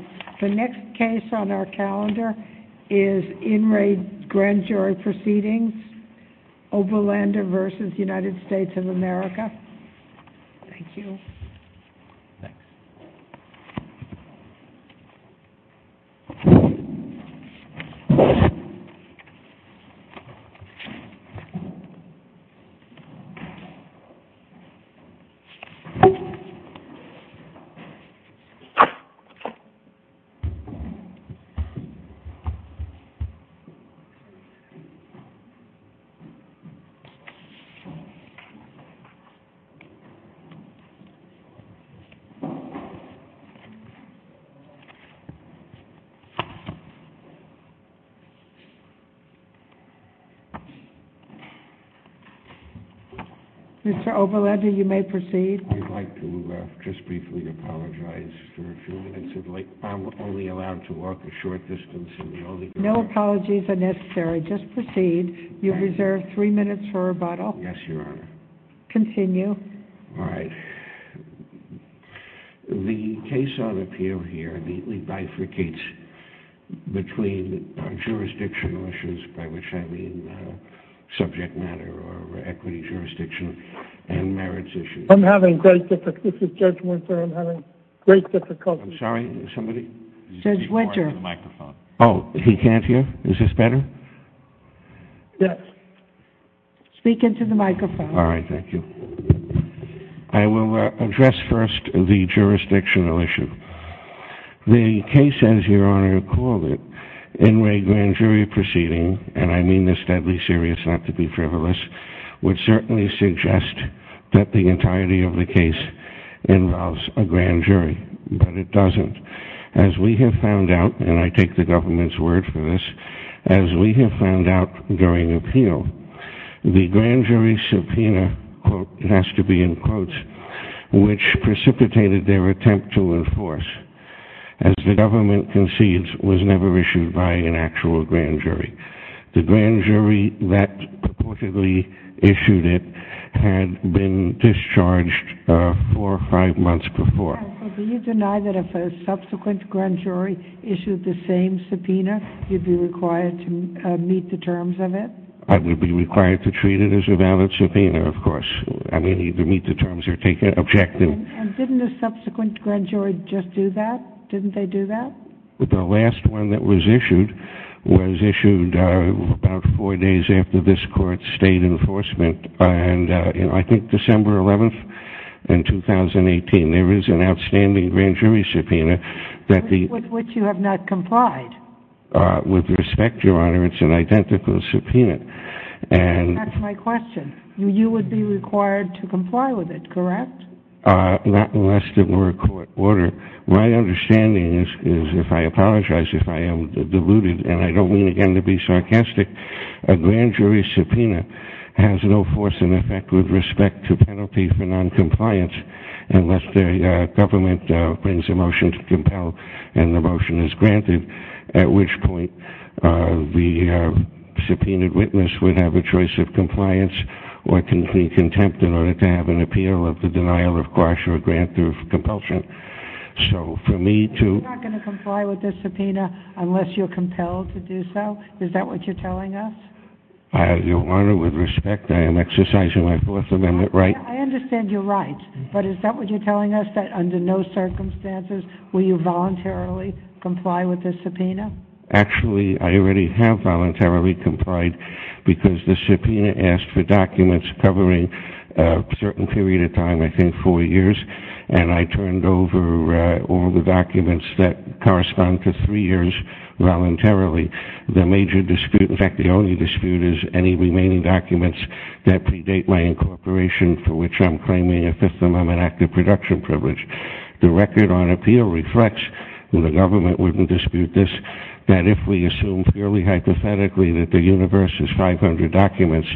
and the next case on our calendar is In Re. Grand Jury Proceedings, Oberlander v. United States of America. Thank you. Mr. Oberlander, you may proceed. I would like to just briefly apologize for a few minutes of delay. I'm only allowed to walk a short distance. No apologies are necessary. Just proceed. You have reserved three minutes for rebuttal. Yes, Your Honor. Continue. All right. The case on appeal here immediately bifurcates between jurisdictional issues, by which I mean subject matter or equity jurisdiction, and merits issues. I'm having great difficulty. This is Judge Winter. I'm having great difficulty. I'm sorry. Somebody? Judge Winter. Oh, he can't hear? Is this better? Yes. Speak into the microphone. All right. Thank you. I will address first the jurisdictional issue. The case, as Your Honor called it, In Re. Grand Jury Proceedings, and I mean this deadly serious, not to be frivolous, would certainly suggest that the entirety of the case involves a grand jury, but it doesn't. As we have found out, and I take the government's word for this, as we have found out during appeal, the grand jury subpoena, quote, has to be in quotes, which precipitated their attempt to enforce, as the government concedes, was never issued by an actual grand jury. The grand jury that reportedly issued it had been discharged four or five months before. So do you deny that if a subsequent grand jury issued the same subpoena, you'd be required to meet the terms of it? I would be required to treat it as a valid subpoena, of course. I mean, either meet the terms or take an objective. And didn't a subsequent grand jury just do that? Didn't it? It was issued about four days after this court stayed in enforcement, and I think December 11th, in 2018, there is an outstanding grand jury subpoena that the... With which you have not complied. With respect, Your Honor, it's an identical subpoena. That's my question. You would be required to comply with it, correct? Not unless there were a court order. My understanding is, if I apologize if I am deluded, and I don't mean, again, to be sarcastic, a grand jury subpoena has no force in effect with respect to penalty for noncompliance unless the government brings a motion to compel and the motion is granted, at which point the subpoenaed witness would have a choice of compliance or can be contempt in order to give an appeal of the denial of grudge or grant of compulsion. So for me to... You're not going to comply with this subpoena unless you're compelled to do so? Is that what you're telling us? Your Honor, with respect, I am exercising my Fourth Amendment right. I understand you're right, but is that what you're telling us, that under no circumstances will you voluntarily comply with this subpoena? Actually, I already have voluntarily complied because the subpoena asked for documents covering a certain period of time, I think four years, and I turned over all the documents that correspond to three years voluntarily. The major dispute, in fact, the only dispute is any remaining documents that predate my incorporation, for which I'm claiming a Fifth Amendment active production privilege. The record on appeal reflects that the government wouldn't dispute this, that if we assume purely hypothetically that the universe is 500 documents,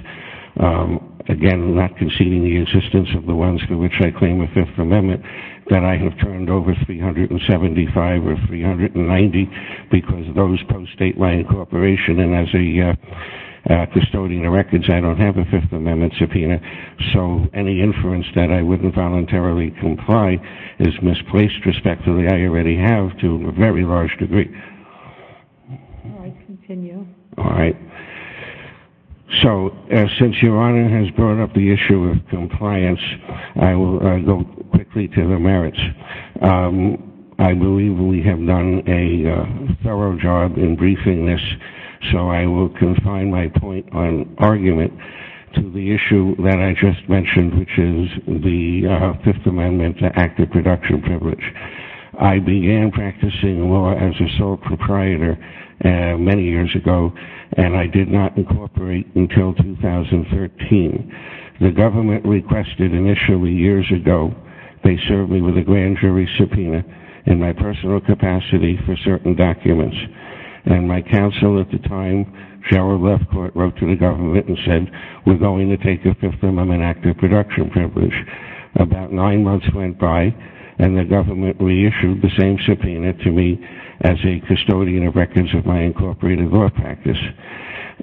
again, not conceding the existence of the ones for which I claim a Fifth Amendment, that I have turned over 375 or 390 because of those post-date my incorporation, and as a custodian of records, I don't have a Fifth Amendment subpoena. So any inference that I wouldn't voluntarily comply is misplaced, respectively. I already have to a very large degree. All right, continue. All right. So, since Your Honor has brought up the issue of compliance, I will go quickly to the merits. I believe we have done a thorough job in briefing this, so I will confine my point on argument to the issue that I just began practicing law as a sole proprietor many years ago, and I did not incorporate until 2013. The government requested initially years ago, they served me with a grand jury subpoena in my personal capacity for certain documents, and my counsel at the time, Sheryl Lefcourt, wrote to the government and said, we're going to take a Fifth Amendment active reduction privilege. About nine months went by, and the government reissued the same subpoena to me as a custodian of records of my incorporated law practice.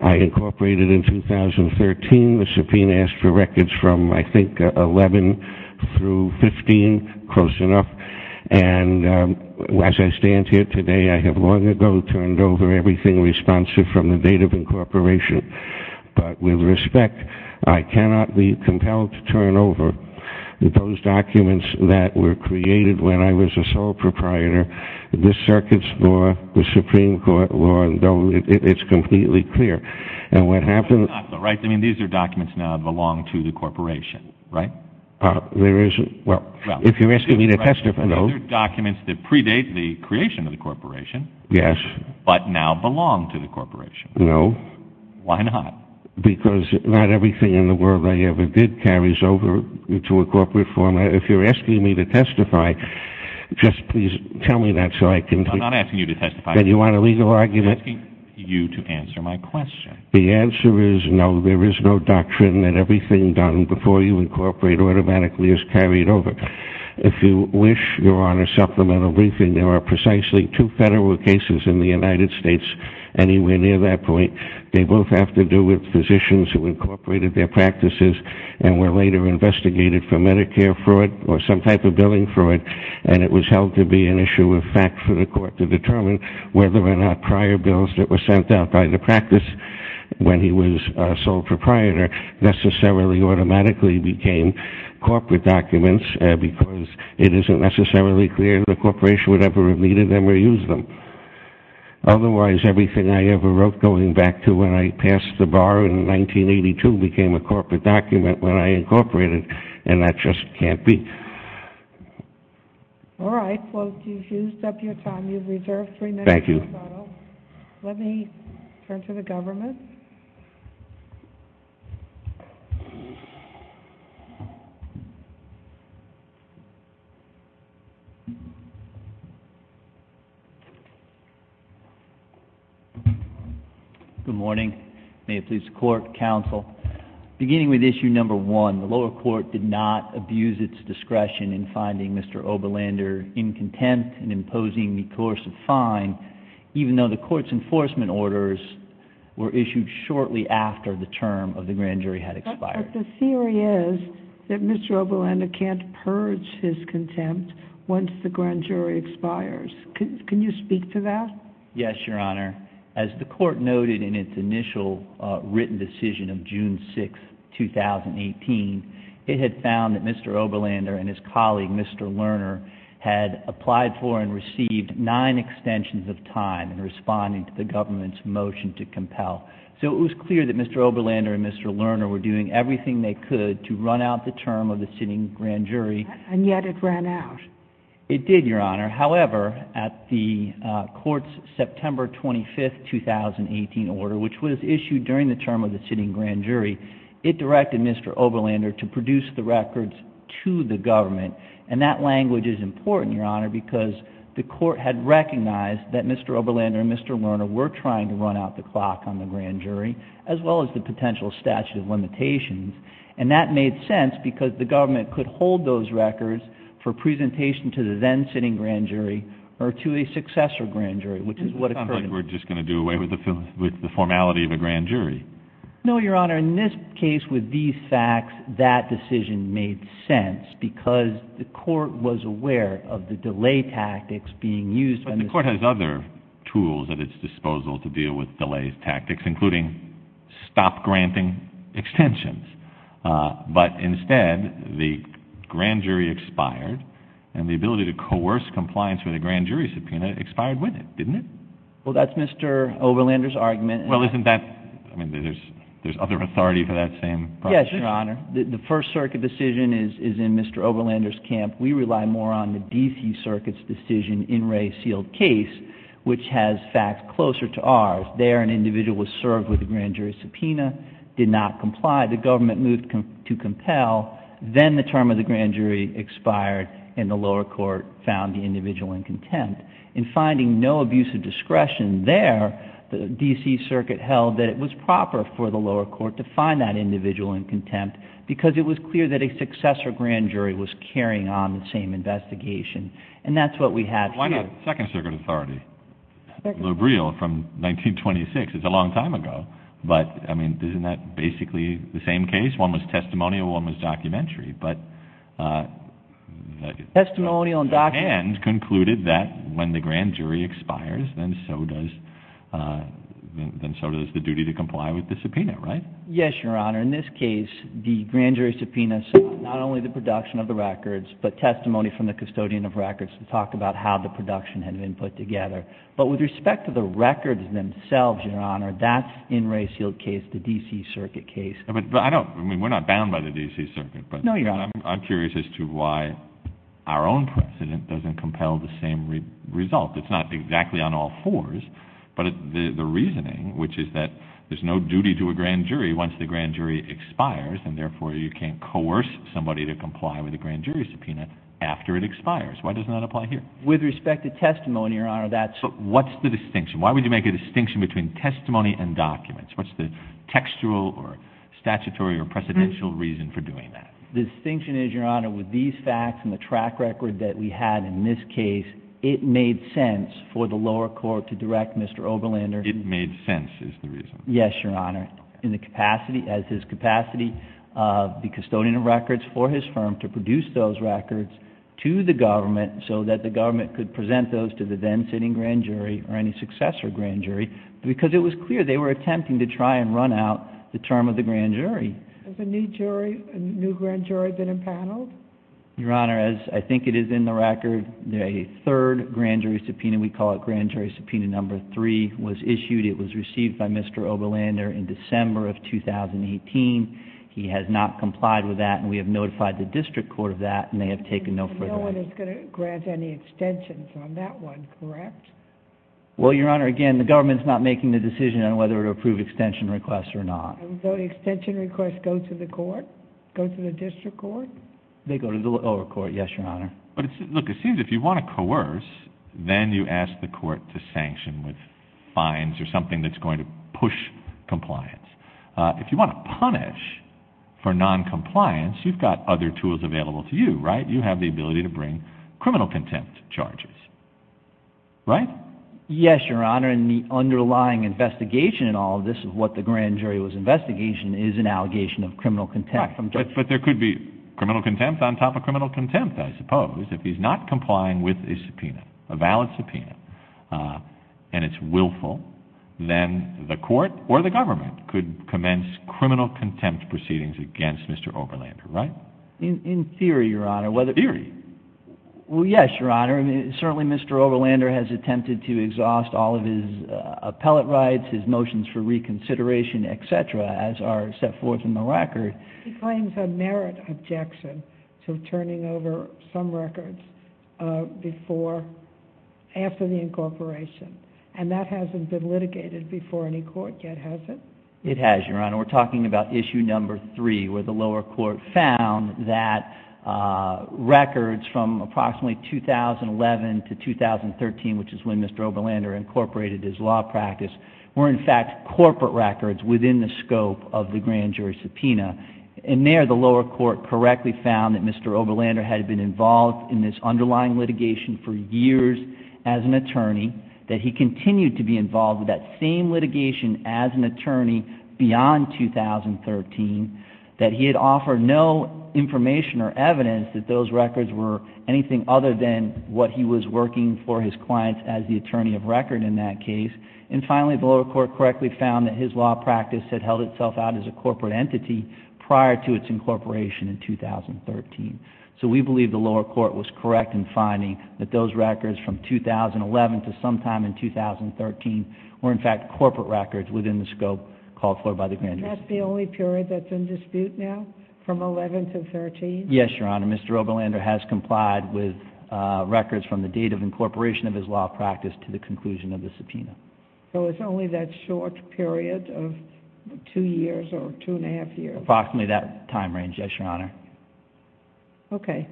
I incorporated in 2013. The subpoena asked for records from, I think, 11 through 15, close enough, and as I stand here today, I have long ago turned over everything responsive from the date of incorporation, but with respect, I cannot be compelled to turn over those documents that were created when I was a sole proprietor, the circuit's law, the Supreme Court law, and it's completely clear. And what happened... Right, I mean, these are documents now that belong to the corporation, right? There is, well, if you're asking me to testify, no. These are documents that predate the creation of the corporation... Yes. But now belong to the corporation. No. Why not? Because not everything in the world I ever did carries over into a corporate format. If you're asking me to testify, just please tell me that so I can... I'm not asking you to testify. Then you want a legal argument? I'm asking you to answer my question. The answer is no. There is no doctrine that everything done before you incorporate automatically is carried over. If you wish, you're on a supplemental briefing. There are precisely two federal cases in the United States anywhere near that point. They both have to do with physicians who incorporated their practices and were later investigated for Medicare fraud or some type of billing fraud, and it was held to be an issue of fact for the court to determine whether or not prior bills that were sent out by the practice when he was a sole proprietor necessarily automatically became corporate documents because it isn't necessarily clear the corporation would ever have needed them or used them. Otherwise, everything I ever wrote going back to when I passed the bar in 1982 became a corporate document when I incorporated, and that just can't be. All right. Well, you've used up your time. You've reserved three minutes. Thank you. Let me turn to the government. Good morning. May it please the court, counsel. Beginning with issue number one, the lower court did not abuse its discretion in finding Mr. Oberlander in contempt and imposing the course of fine, even though the court's enforcement orders were issued shortly after the term of the grand jury had expired. But the theory is that Mr. Oberlander can't purge his contempt once the grand jury expires. Can you speak to that? Yes, Your Honor. As the court noted in its initial written decision of June 6, 2018, it had found that Mr. Oberlander and his colleague, Mr. Lerner, had applied for and received nine extensions of time in responding to the government's motion to compel. So it was clear that Mr. Oberlander and Mr. Lerner were doing everything they could to run out the term of the sitting grand jury. And yet it ran out. It did, Your Honor. However, at the court's September 25, 2018 order, which was issued during the term of the sitting grand jury, it directed Mr. Oberlander to produce the records to the government. And that language is important, Your Honor, because the court had recognized that Mr. Oberlander and Mr. Lerner were trying to run out the clock on the grand jury, as well as the potential statute of limitations. And that made sense because the government could hold those records for presentation to the then sitting grand jury or to a successor grand jury, which is what occurred. It doesn't sound like we're just going to do away with the formality of a grand jury. No, Your Honor. In this case, with these facts, that decision made sense because the court was aware of the delay tactics being used. But the court has other tools at its disposal to deal with delay tactics, including stop granting extensions. But instead, the grand jury expired, and the ability to coerce compliance with a grand jury subpoena expired with it, didn't it? Well, isn't that—I mean, there's other authority for that same proposition? Yes, Your Honor. The First Circuit decision is in Mr. Oberlander's camp. We rely more on the D.C. Circuit's decision in Ray Seale's case, which has facts closer to ours. There, an individual was served with a grand jury subpoena, did not comply. The government moved to compel. Then the term of the grand jury expired, and the lower court found the individual in contempt. In finding no abuse of discretion there, the D.C. Circuit held that it was proper for the lower court to find that individual in contempt because it was clear that a successor grand jury was carrying on the same investigation. And that's what we have here. Why not Second Circuit authority? Second. Lou Briel from 1926. It's a long time ago. But, I mean, isn't that basically the same case? One was testimonial, one was documentary. Testimonial and documentary. And concluded that when the grand jury expires, then so does the duty to comply with the subpoena, right? Yes, Your Honor. In this case, the grand jury subpoena saw not only the production of the records, but testimony from the custodian of records to talk about how the production had been put together. But with respect to the records themselves, Your Honor, that's in Ray Seale's case, the D.C. Circuit case. I mean, we're not bound by the D.C. Circuit. No, Your Honor. I'm curious as to why our own precedent doesn't compel the same result. It's not exactly on all fours. But the reasoning, which is that there's no duty to a grand jury once the grand jury expires, and therefore you can't coerce somebody to comply with a grand jury subpoena after it expires. Why does that not apply here? With respect to testimony, Your Honor, that's... But what's the distinction? Why would you make a distinction between testimony and documents? What's the textual or statutory or precedential reason for doing that? The distinction is, Your Honor, with these facts and the track record that we had in this case, it made sense for the lower court to direct Mr. Oberlander... It made sense is the reason. Yes, Your Honor. In the capacity, as his capacity, the custodian of records for his firm to produce those records to the government so that the government could present those to the then sitting grand jury or any successor grand jury because it was clear they were attempting to try and run out the term of the grand jury. Has a new grand jury been impaneled? Your Honor, as I think it is in the record, a third grand jury subpoena, we call it grand jury subpoena number three, was issued. It was received by Mr. Oberlander in December of 2018. He has not complied with that, and we have notified the district court of that, and they have taken no further action. And no one is going to grant any extensions on that one, correct? Well, Your Honor, again, the government is not making the decision on whether to approve extension requests or not. So the extension requests go to the court, go to the district court? They go to the lower court, yes, Your Honor. But look, it seems if you want to coerce, then you ask the court to sanction with fines or something that's going to push compliance. If you want to punish for noncompliance, you've got other tools available to you, right? You have the ability to bring criminal contempt charges, right? Yes, Your Honor, and the underlying investigation in all of this, what the grand jury was investigating, is an allegation of criminal contempt. But there could be criminal contempt on top of criminal contempt, I suppose. If he's not complying with his subpoena, a valid subpoena, and it's willful, then the court or the government could commence criminal contempt proceedings against Mr. Oberlander, right? In theory, Your Honor. In theory? Well, yes, Your Honor. Certainly, Mr. Oberlander has attempted to exhaust all of his appellate rights, his motions for reconsideration, et cetera, as are set forth in the record. He claims a merit objection to turning over some records after the incorporation, and that hasn't been litigated before any court yet, has it? It has, Your Honor. We're talking about issue number three, where the lower court found that records from approximately 2011 to 2013, which is when Mr. Oberlander incorporated his law practice, were in fact corporate records within the scope of the grand jury subpoena. And there, the lower court correctly found that Mr. Oberlander had been involved in this underlying litigation for years as an attorney, that he continued to be involved with that same litigation as an attorney beyond 2013, that he had offered no information or evidence that those records were anything other than what he was working for his clients as the attorney of record in that case. And finally, the lower court correctly found that his law practice had held itself out as a corporate entity prior to its incorporation in 2013. So we believe the lower court was correct in finding that those records from 2011 to sometime in 2013 were in fact corporate records within the scope called for by the grand jury. Is that the only period that's in dispute now, from 11 to 13? Yes, Your Honor. Mr. Oberlander has complied with records from the date of incorporation of his law practice to the conclusion of the subpoena. So it's only that short period of two years or two and a half years? Approximately that time range, yes, Your Honor. Okay.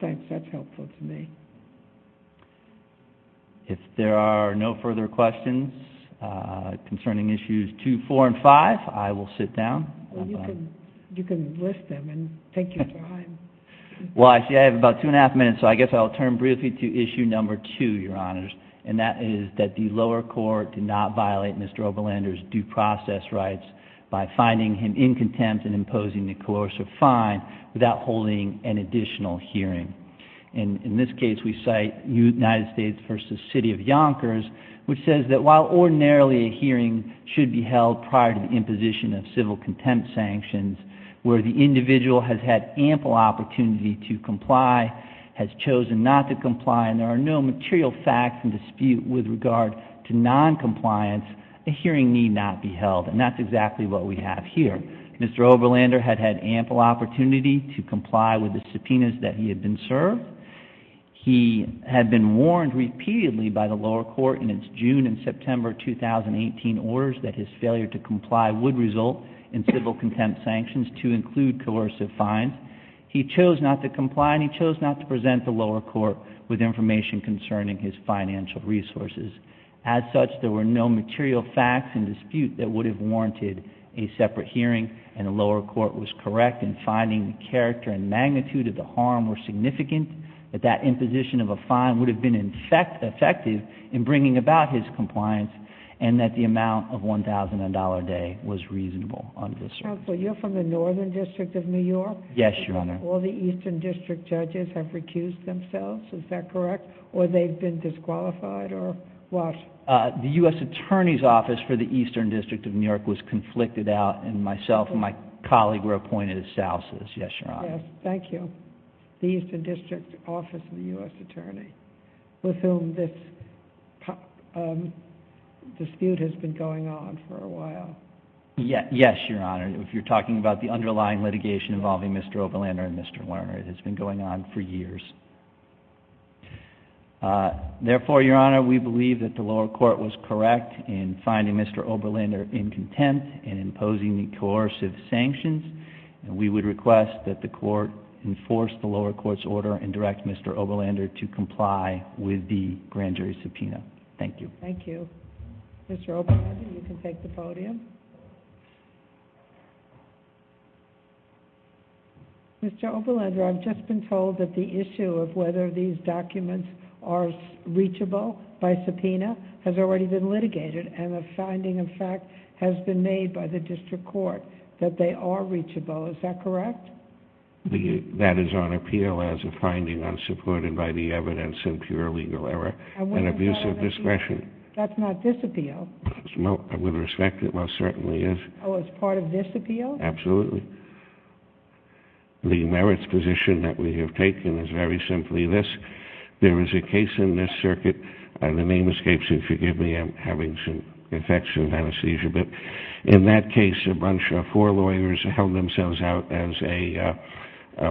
Thanks. That's helpful to me. If there are no further questions concerning issues two, four, and five, I will sit down. You can list them and take your time. Well, I see I have about two and a half minutes, so I guess I'll turn briefly to issue number two, Your Honors, and that is that the lower court did not violate Mr. Oberlander's due process rights by finding him in contempt and imposing the coercive fine without holding an additional hearing. In this case, we cite United States v. City of Yonkers, which says that while ordinarily a hearing should be held prior to the imposition of civil contempt sanctions, where the individual has had ample opportunity to comply, has chosen not to comply, and there are no material facts in dispute with regard to noncompliance, a hearing need not be held. And that's exactly what we have here. Mr. Oberlander had had ample opportunity to comply with the subpoenas that he had been served. He had been warned repeatedly by the lower court in its June and September 2018 orders that his failure to comply would result in civil contempt sanctions to include coercive fines. He chose not to comply, and he chose not to present the lower court with information concerning his financial resources. As such, there were no material facts in dispute that would have warranted a separate hearing, and the lower court was correct in finding the character and magnitude of the harm were significant, that that imposition of a fine would have been effective in bringing about his compliance, and that the amount of $1,000 a day was reasonable under the circumstances. Your Honor, you're from the Northern District of New York? Yes, Your Honor. All the Eastern District judges have recused themselves, is that correct? Or they've been disqualified, or what? The U.S. Attorney's Office for the Eastern District of New York was conflicted out, and myself and my colleague were appointed as spouses, yes, Your Honor. Yes, thank you. The Eastern District Office of the U.S. Attorney, with whom this dispute has been going on for a while. Yes, Your Honor. If you're talking about the underlying litigation involving Mr. Oberlander and Mr. Lerner, it has been going on for years. Therefore, Your Honor, we believe that the lower court was correct in finding Mr. Oberlander in contempt and imposing the coercive sanctions, and we would request that the court enforce the lower court's order and direct Mr. Oberlander to comply with the grand jury subpoena. Thank you. Thank you. Mr. Oberlander, you can take the podium. Mr. Oberlander, I've just been told that the issue of whether these documents are reachable by subpoena has already been litigated, and a finding, in fact, has been made by the district court that they are reachable. Is that correct? That is on appeal as a finding unsupported by the evidence in pure legal error and abuse of discretion. That's not disappeal. Well, I would respect it. Well, it certainly is. Oh, it's part of disappeal? Absolutely. The merits position that we have taken is very simply this. There is a case in this circuit, and the name escapes you, forgive me. I'm having some infections and anesthesia. But in that case, a bunch of four lawyers held themselves out as a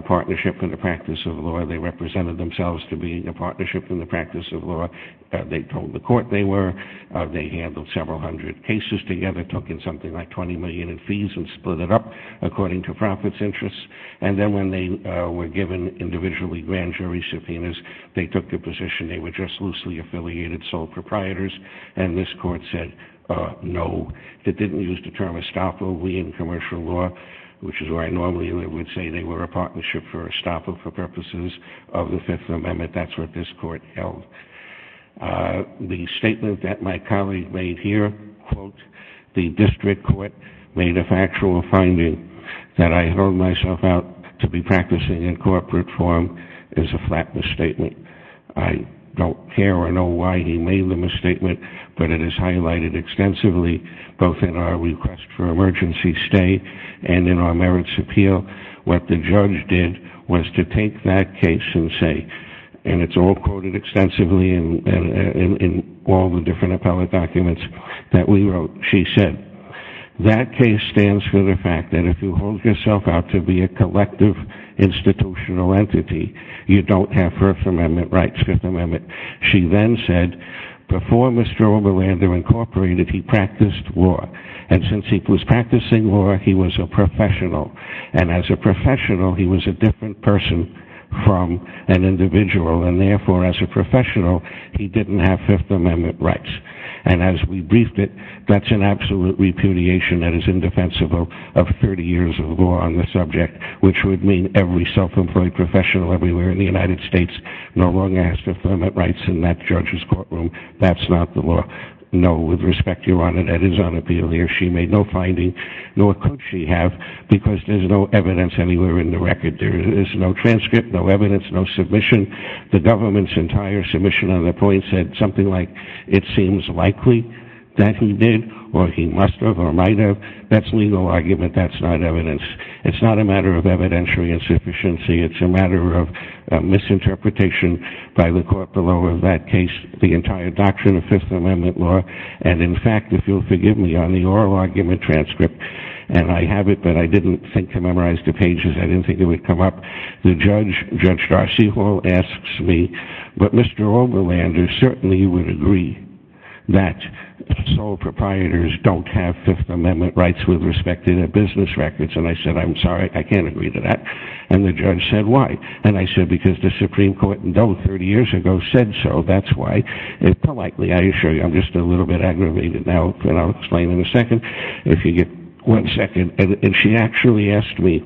partnership in the practice of law. They represented themselves to being a partnership in the practice of law. They told the court they were. They handled several hundred cases together, took in something like $20 million in fees and split it up according to profits interests. And then when they were given individually grand jury subpoenas, they took the position they were just loosely affiliated sole proprietors, and this court said no. It didn't use the term estoppel. We in commercial law, which is where I normally would say they were a partnership for estoppel for purposes of the Fifth Amendment. That's what this court held. The statement that my colleague made here, quote, the district court made a factual finding that I held myself out to be practicing in corporate form is a flat misstatement. I don't care or know why he made the misstatement, but it is highlighted extensively both in our request for emergency stay and in our merits appeal. What the judge did was to take that case and say, and it's all quoted extensively in all the different appellate documents that we wrote, she said, that case stands for the fact that if you hold yourself out to be a collective institutional entity, you don't have First Amendment rights, Fifth Amendment. She then said, before Mr. Oberlander incorporated, he practiced law. And since he was practicing law, he was a professional. And as a professional, he was a different person from an individual. And therefore, as a professional, he didn't have Fifth Amendment rights. And as we briefed it, that's an absolute repudiation that is indefensible of 30 years of law on the subject, which would mean every self-employed professional everywhere in the United States no longer has Fifth Amendment rights in that judge's courtroom. That's not the law. No, with respect, Your Honor, that is unappealing. She made no finding, nor could she have, because there's no evidence anywhere in the record. There is no transcript, no evidence, no submission. The government's entire submission on the point said something like it seems likely that he did or he must have or might have. That's legal argument. That's not evidence. It's not a matter of evidentiary insufficiency. It's a matter of misinterpretation by the court below of that case, the entire doctrine of Fifth Amendment law. And, in fact, if you'll forgive me, on the oral argument transcript, and I have it, but I didn't think to memorize the pages. I didn't think it would come up. The judge, Judge Darcy Hall, asks me, but Mr. Oberlander certainly would agree that sole proprietors don't have Fifth Amendment rights with respect to their business records. And I said, I'm sorry, I can't agree to that. And the judge said, why? And I said, because the Supreme Court in Dole 30 years ago said so. That's why. And politely, I assure you, I'm just a little bit aggravated now, and I'll explain in a second if you get one second. And she actually asked me,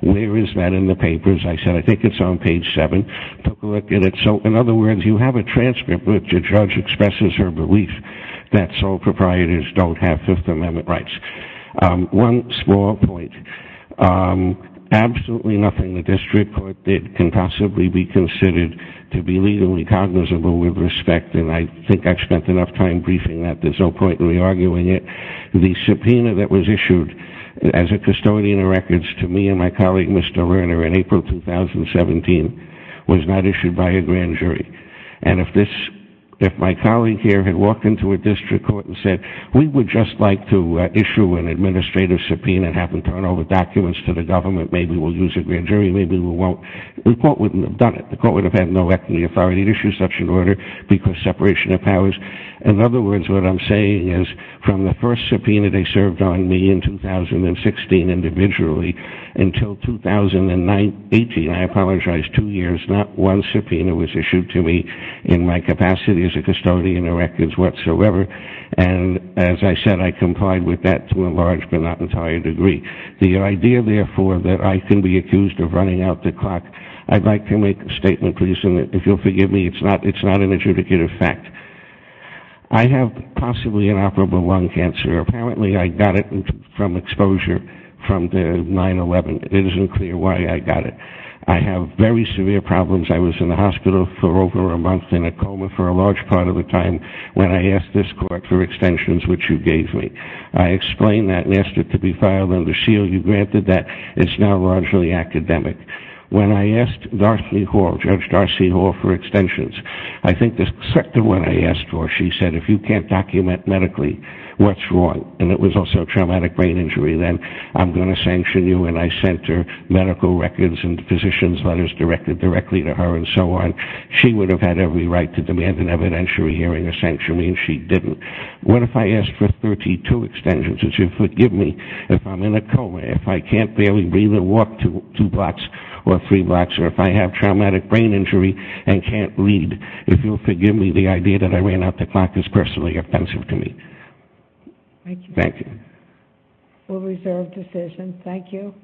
where is that in the papers? I said, I think it's on page seven. Took a look at it. So, in other words, you have a transcript, but the judge expresses her belief that sole proprietors don't have Fifth Amendment rights. One small point. Absolutely nothing the district court did can possibly be considered to be legally cognizable with respect, and I think I've spent enough time briefing that there's no point in re-arguing it. The subpoena that was issued as a custodian of records to me and my colleague, Mr. Lerner, in April 2017, was not issued by a grand jury. And if my colleague here had walked into a district court and said, we would just like to issue an administrative subpoena and have them turn over documents to the government, maybe we'll use a grand jury, maybe we won't, the court wouldn't have done it. The court would have had no equity authority to issue such an order because separation of powers. In other words, what I'm saying is, from the first subpoena they served on me in 2016 individually, until 2018, I apologize, two years, not one subpoena was issued to me in my capacity as a custodian of records whatsoever. And as I said, I complied with that to a large but not entire degree. The idea, therefore, that I can be accused of running out the clock, I'd like to make a statement, please, and if you'll forgive me, it's not an adjudicative fact. I have possibly an operable lung cancer. Apparently I got it from exposure from the 9-11. It isn't clear why I got it. I have very severe problems. I was in the hospital for over a month in a coma for a large part of the time. When I asked this court for extensions, which you gave me, I explained that and asked it to be filed under seal. You granted that. It's now largely academic. When I asked Darcy Hall, Judge Darcy Hall, for extensions, I think the second one I asked for, she said, if you can't document medically what's wrong, and it was also traumatic brain injury, then I'm going to sanction you. And I sent her medical records and physician's letters directed directly to her and so on. She would have had every right to demand an evidentiary hearing or sanction me, and she didn't. What if I asked for 32 extensions? Would you forgive me if I'm in a coma, if I can't barely breathe or walk two blocks or three blocks, or if I have traumatic brain injury and can't lead? If you'll forgive me, the idea that I ran out the clock is personally offensive to me. Thank you. We'll reserve decision. Thank you.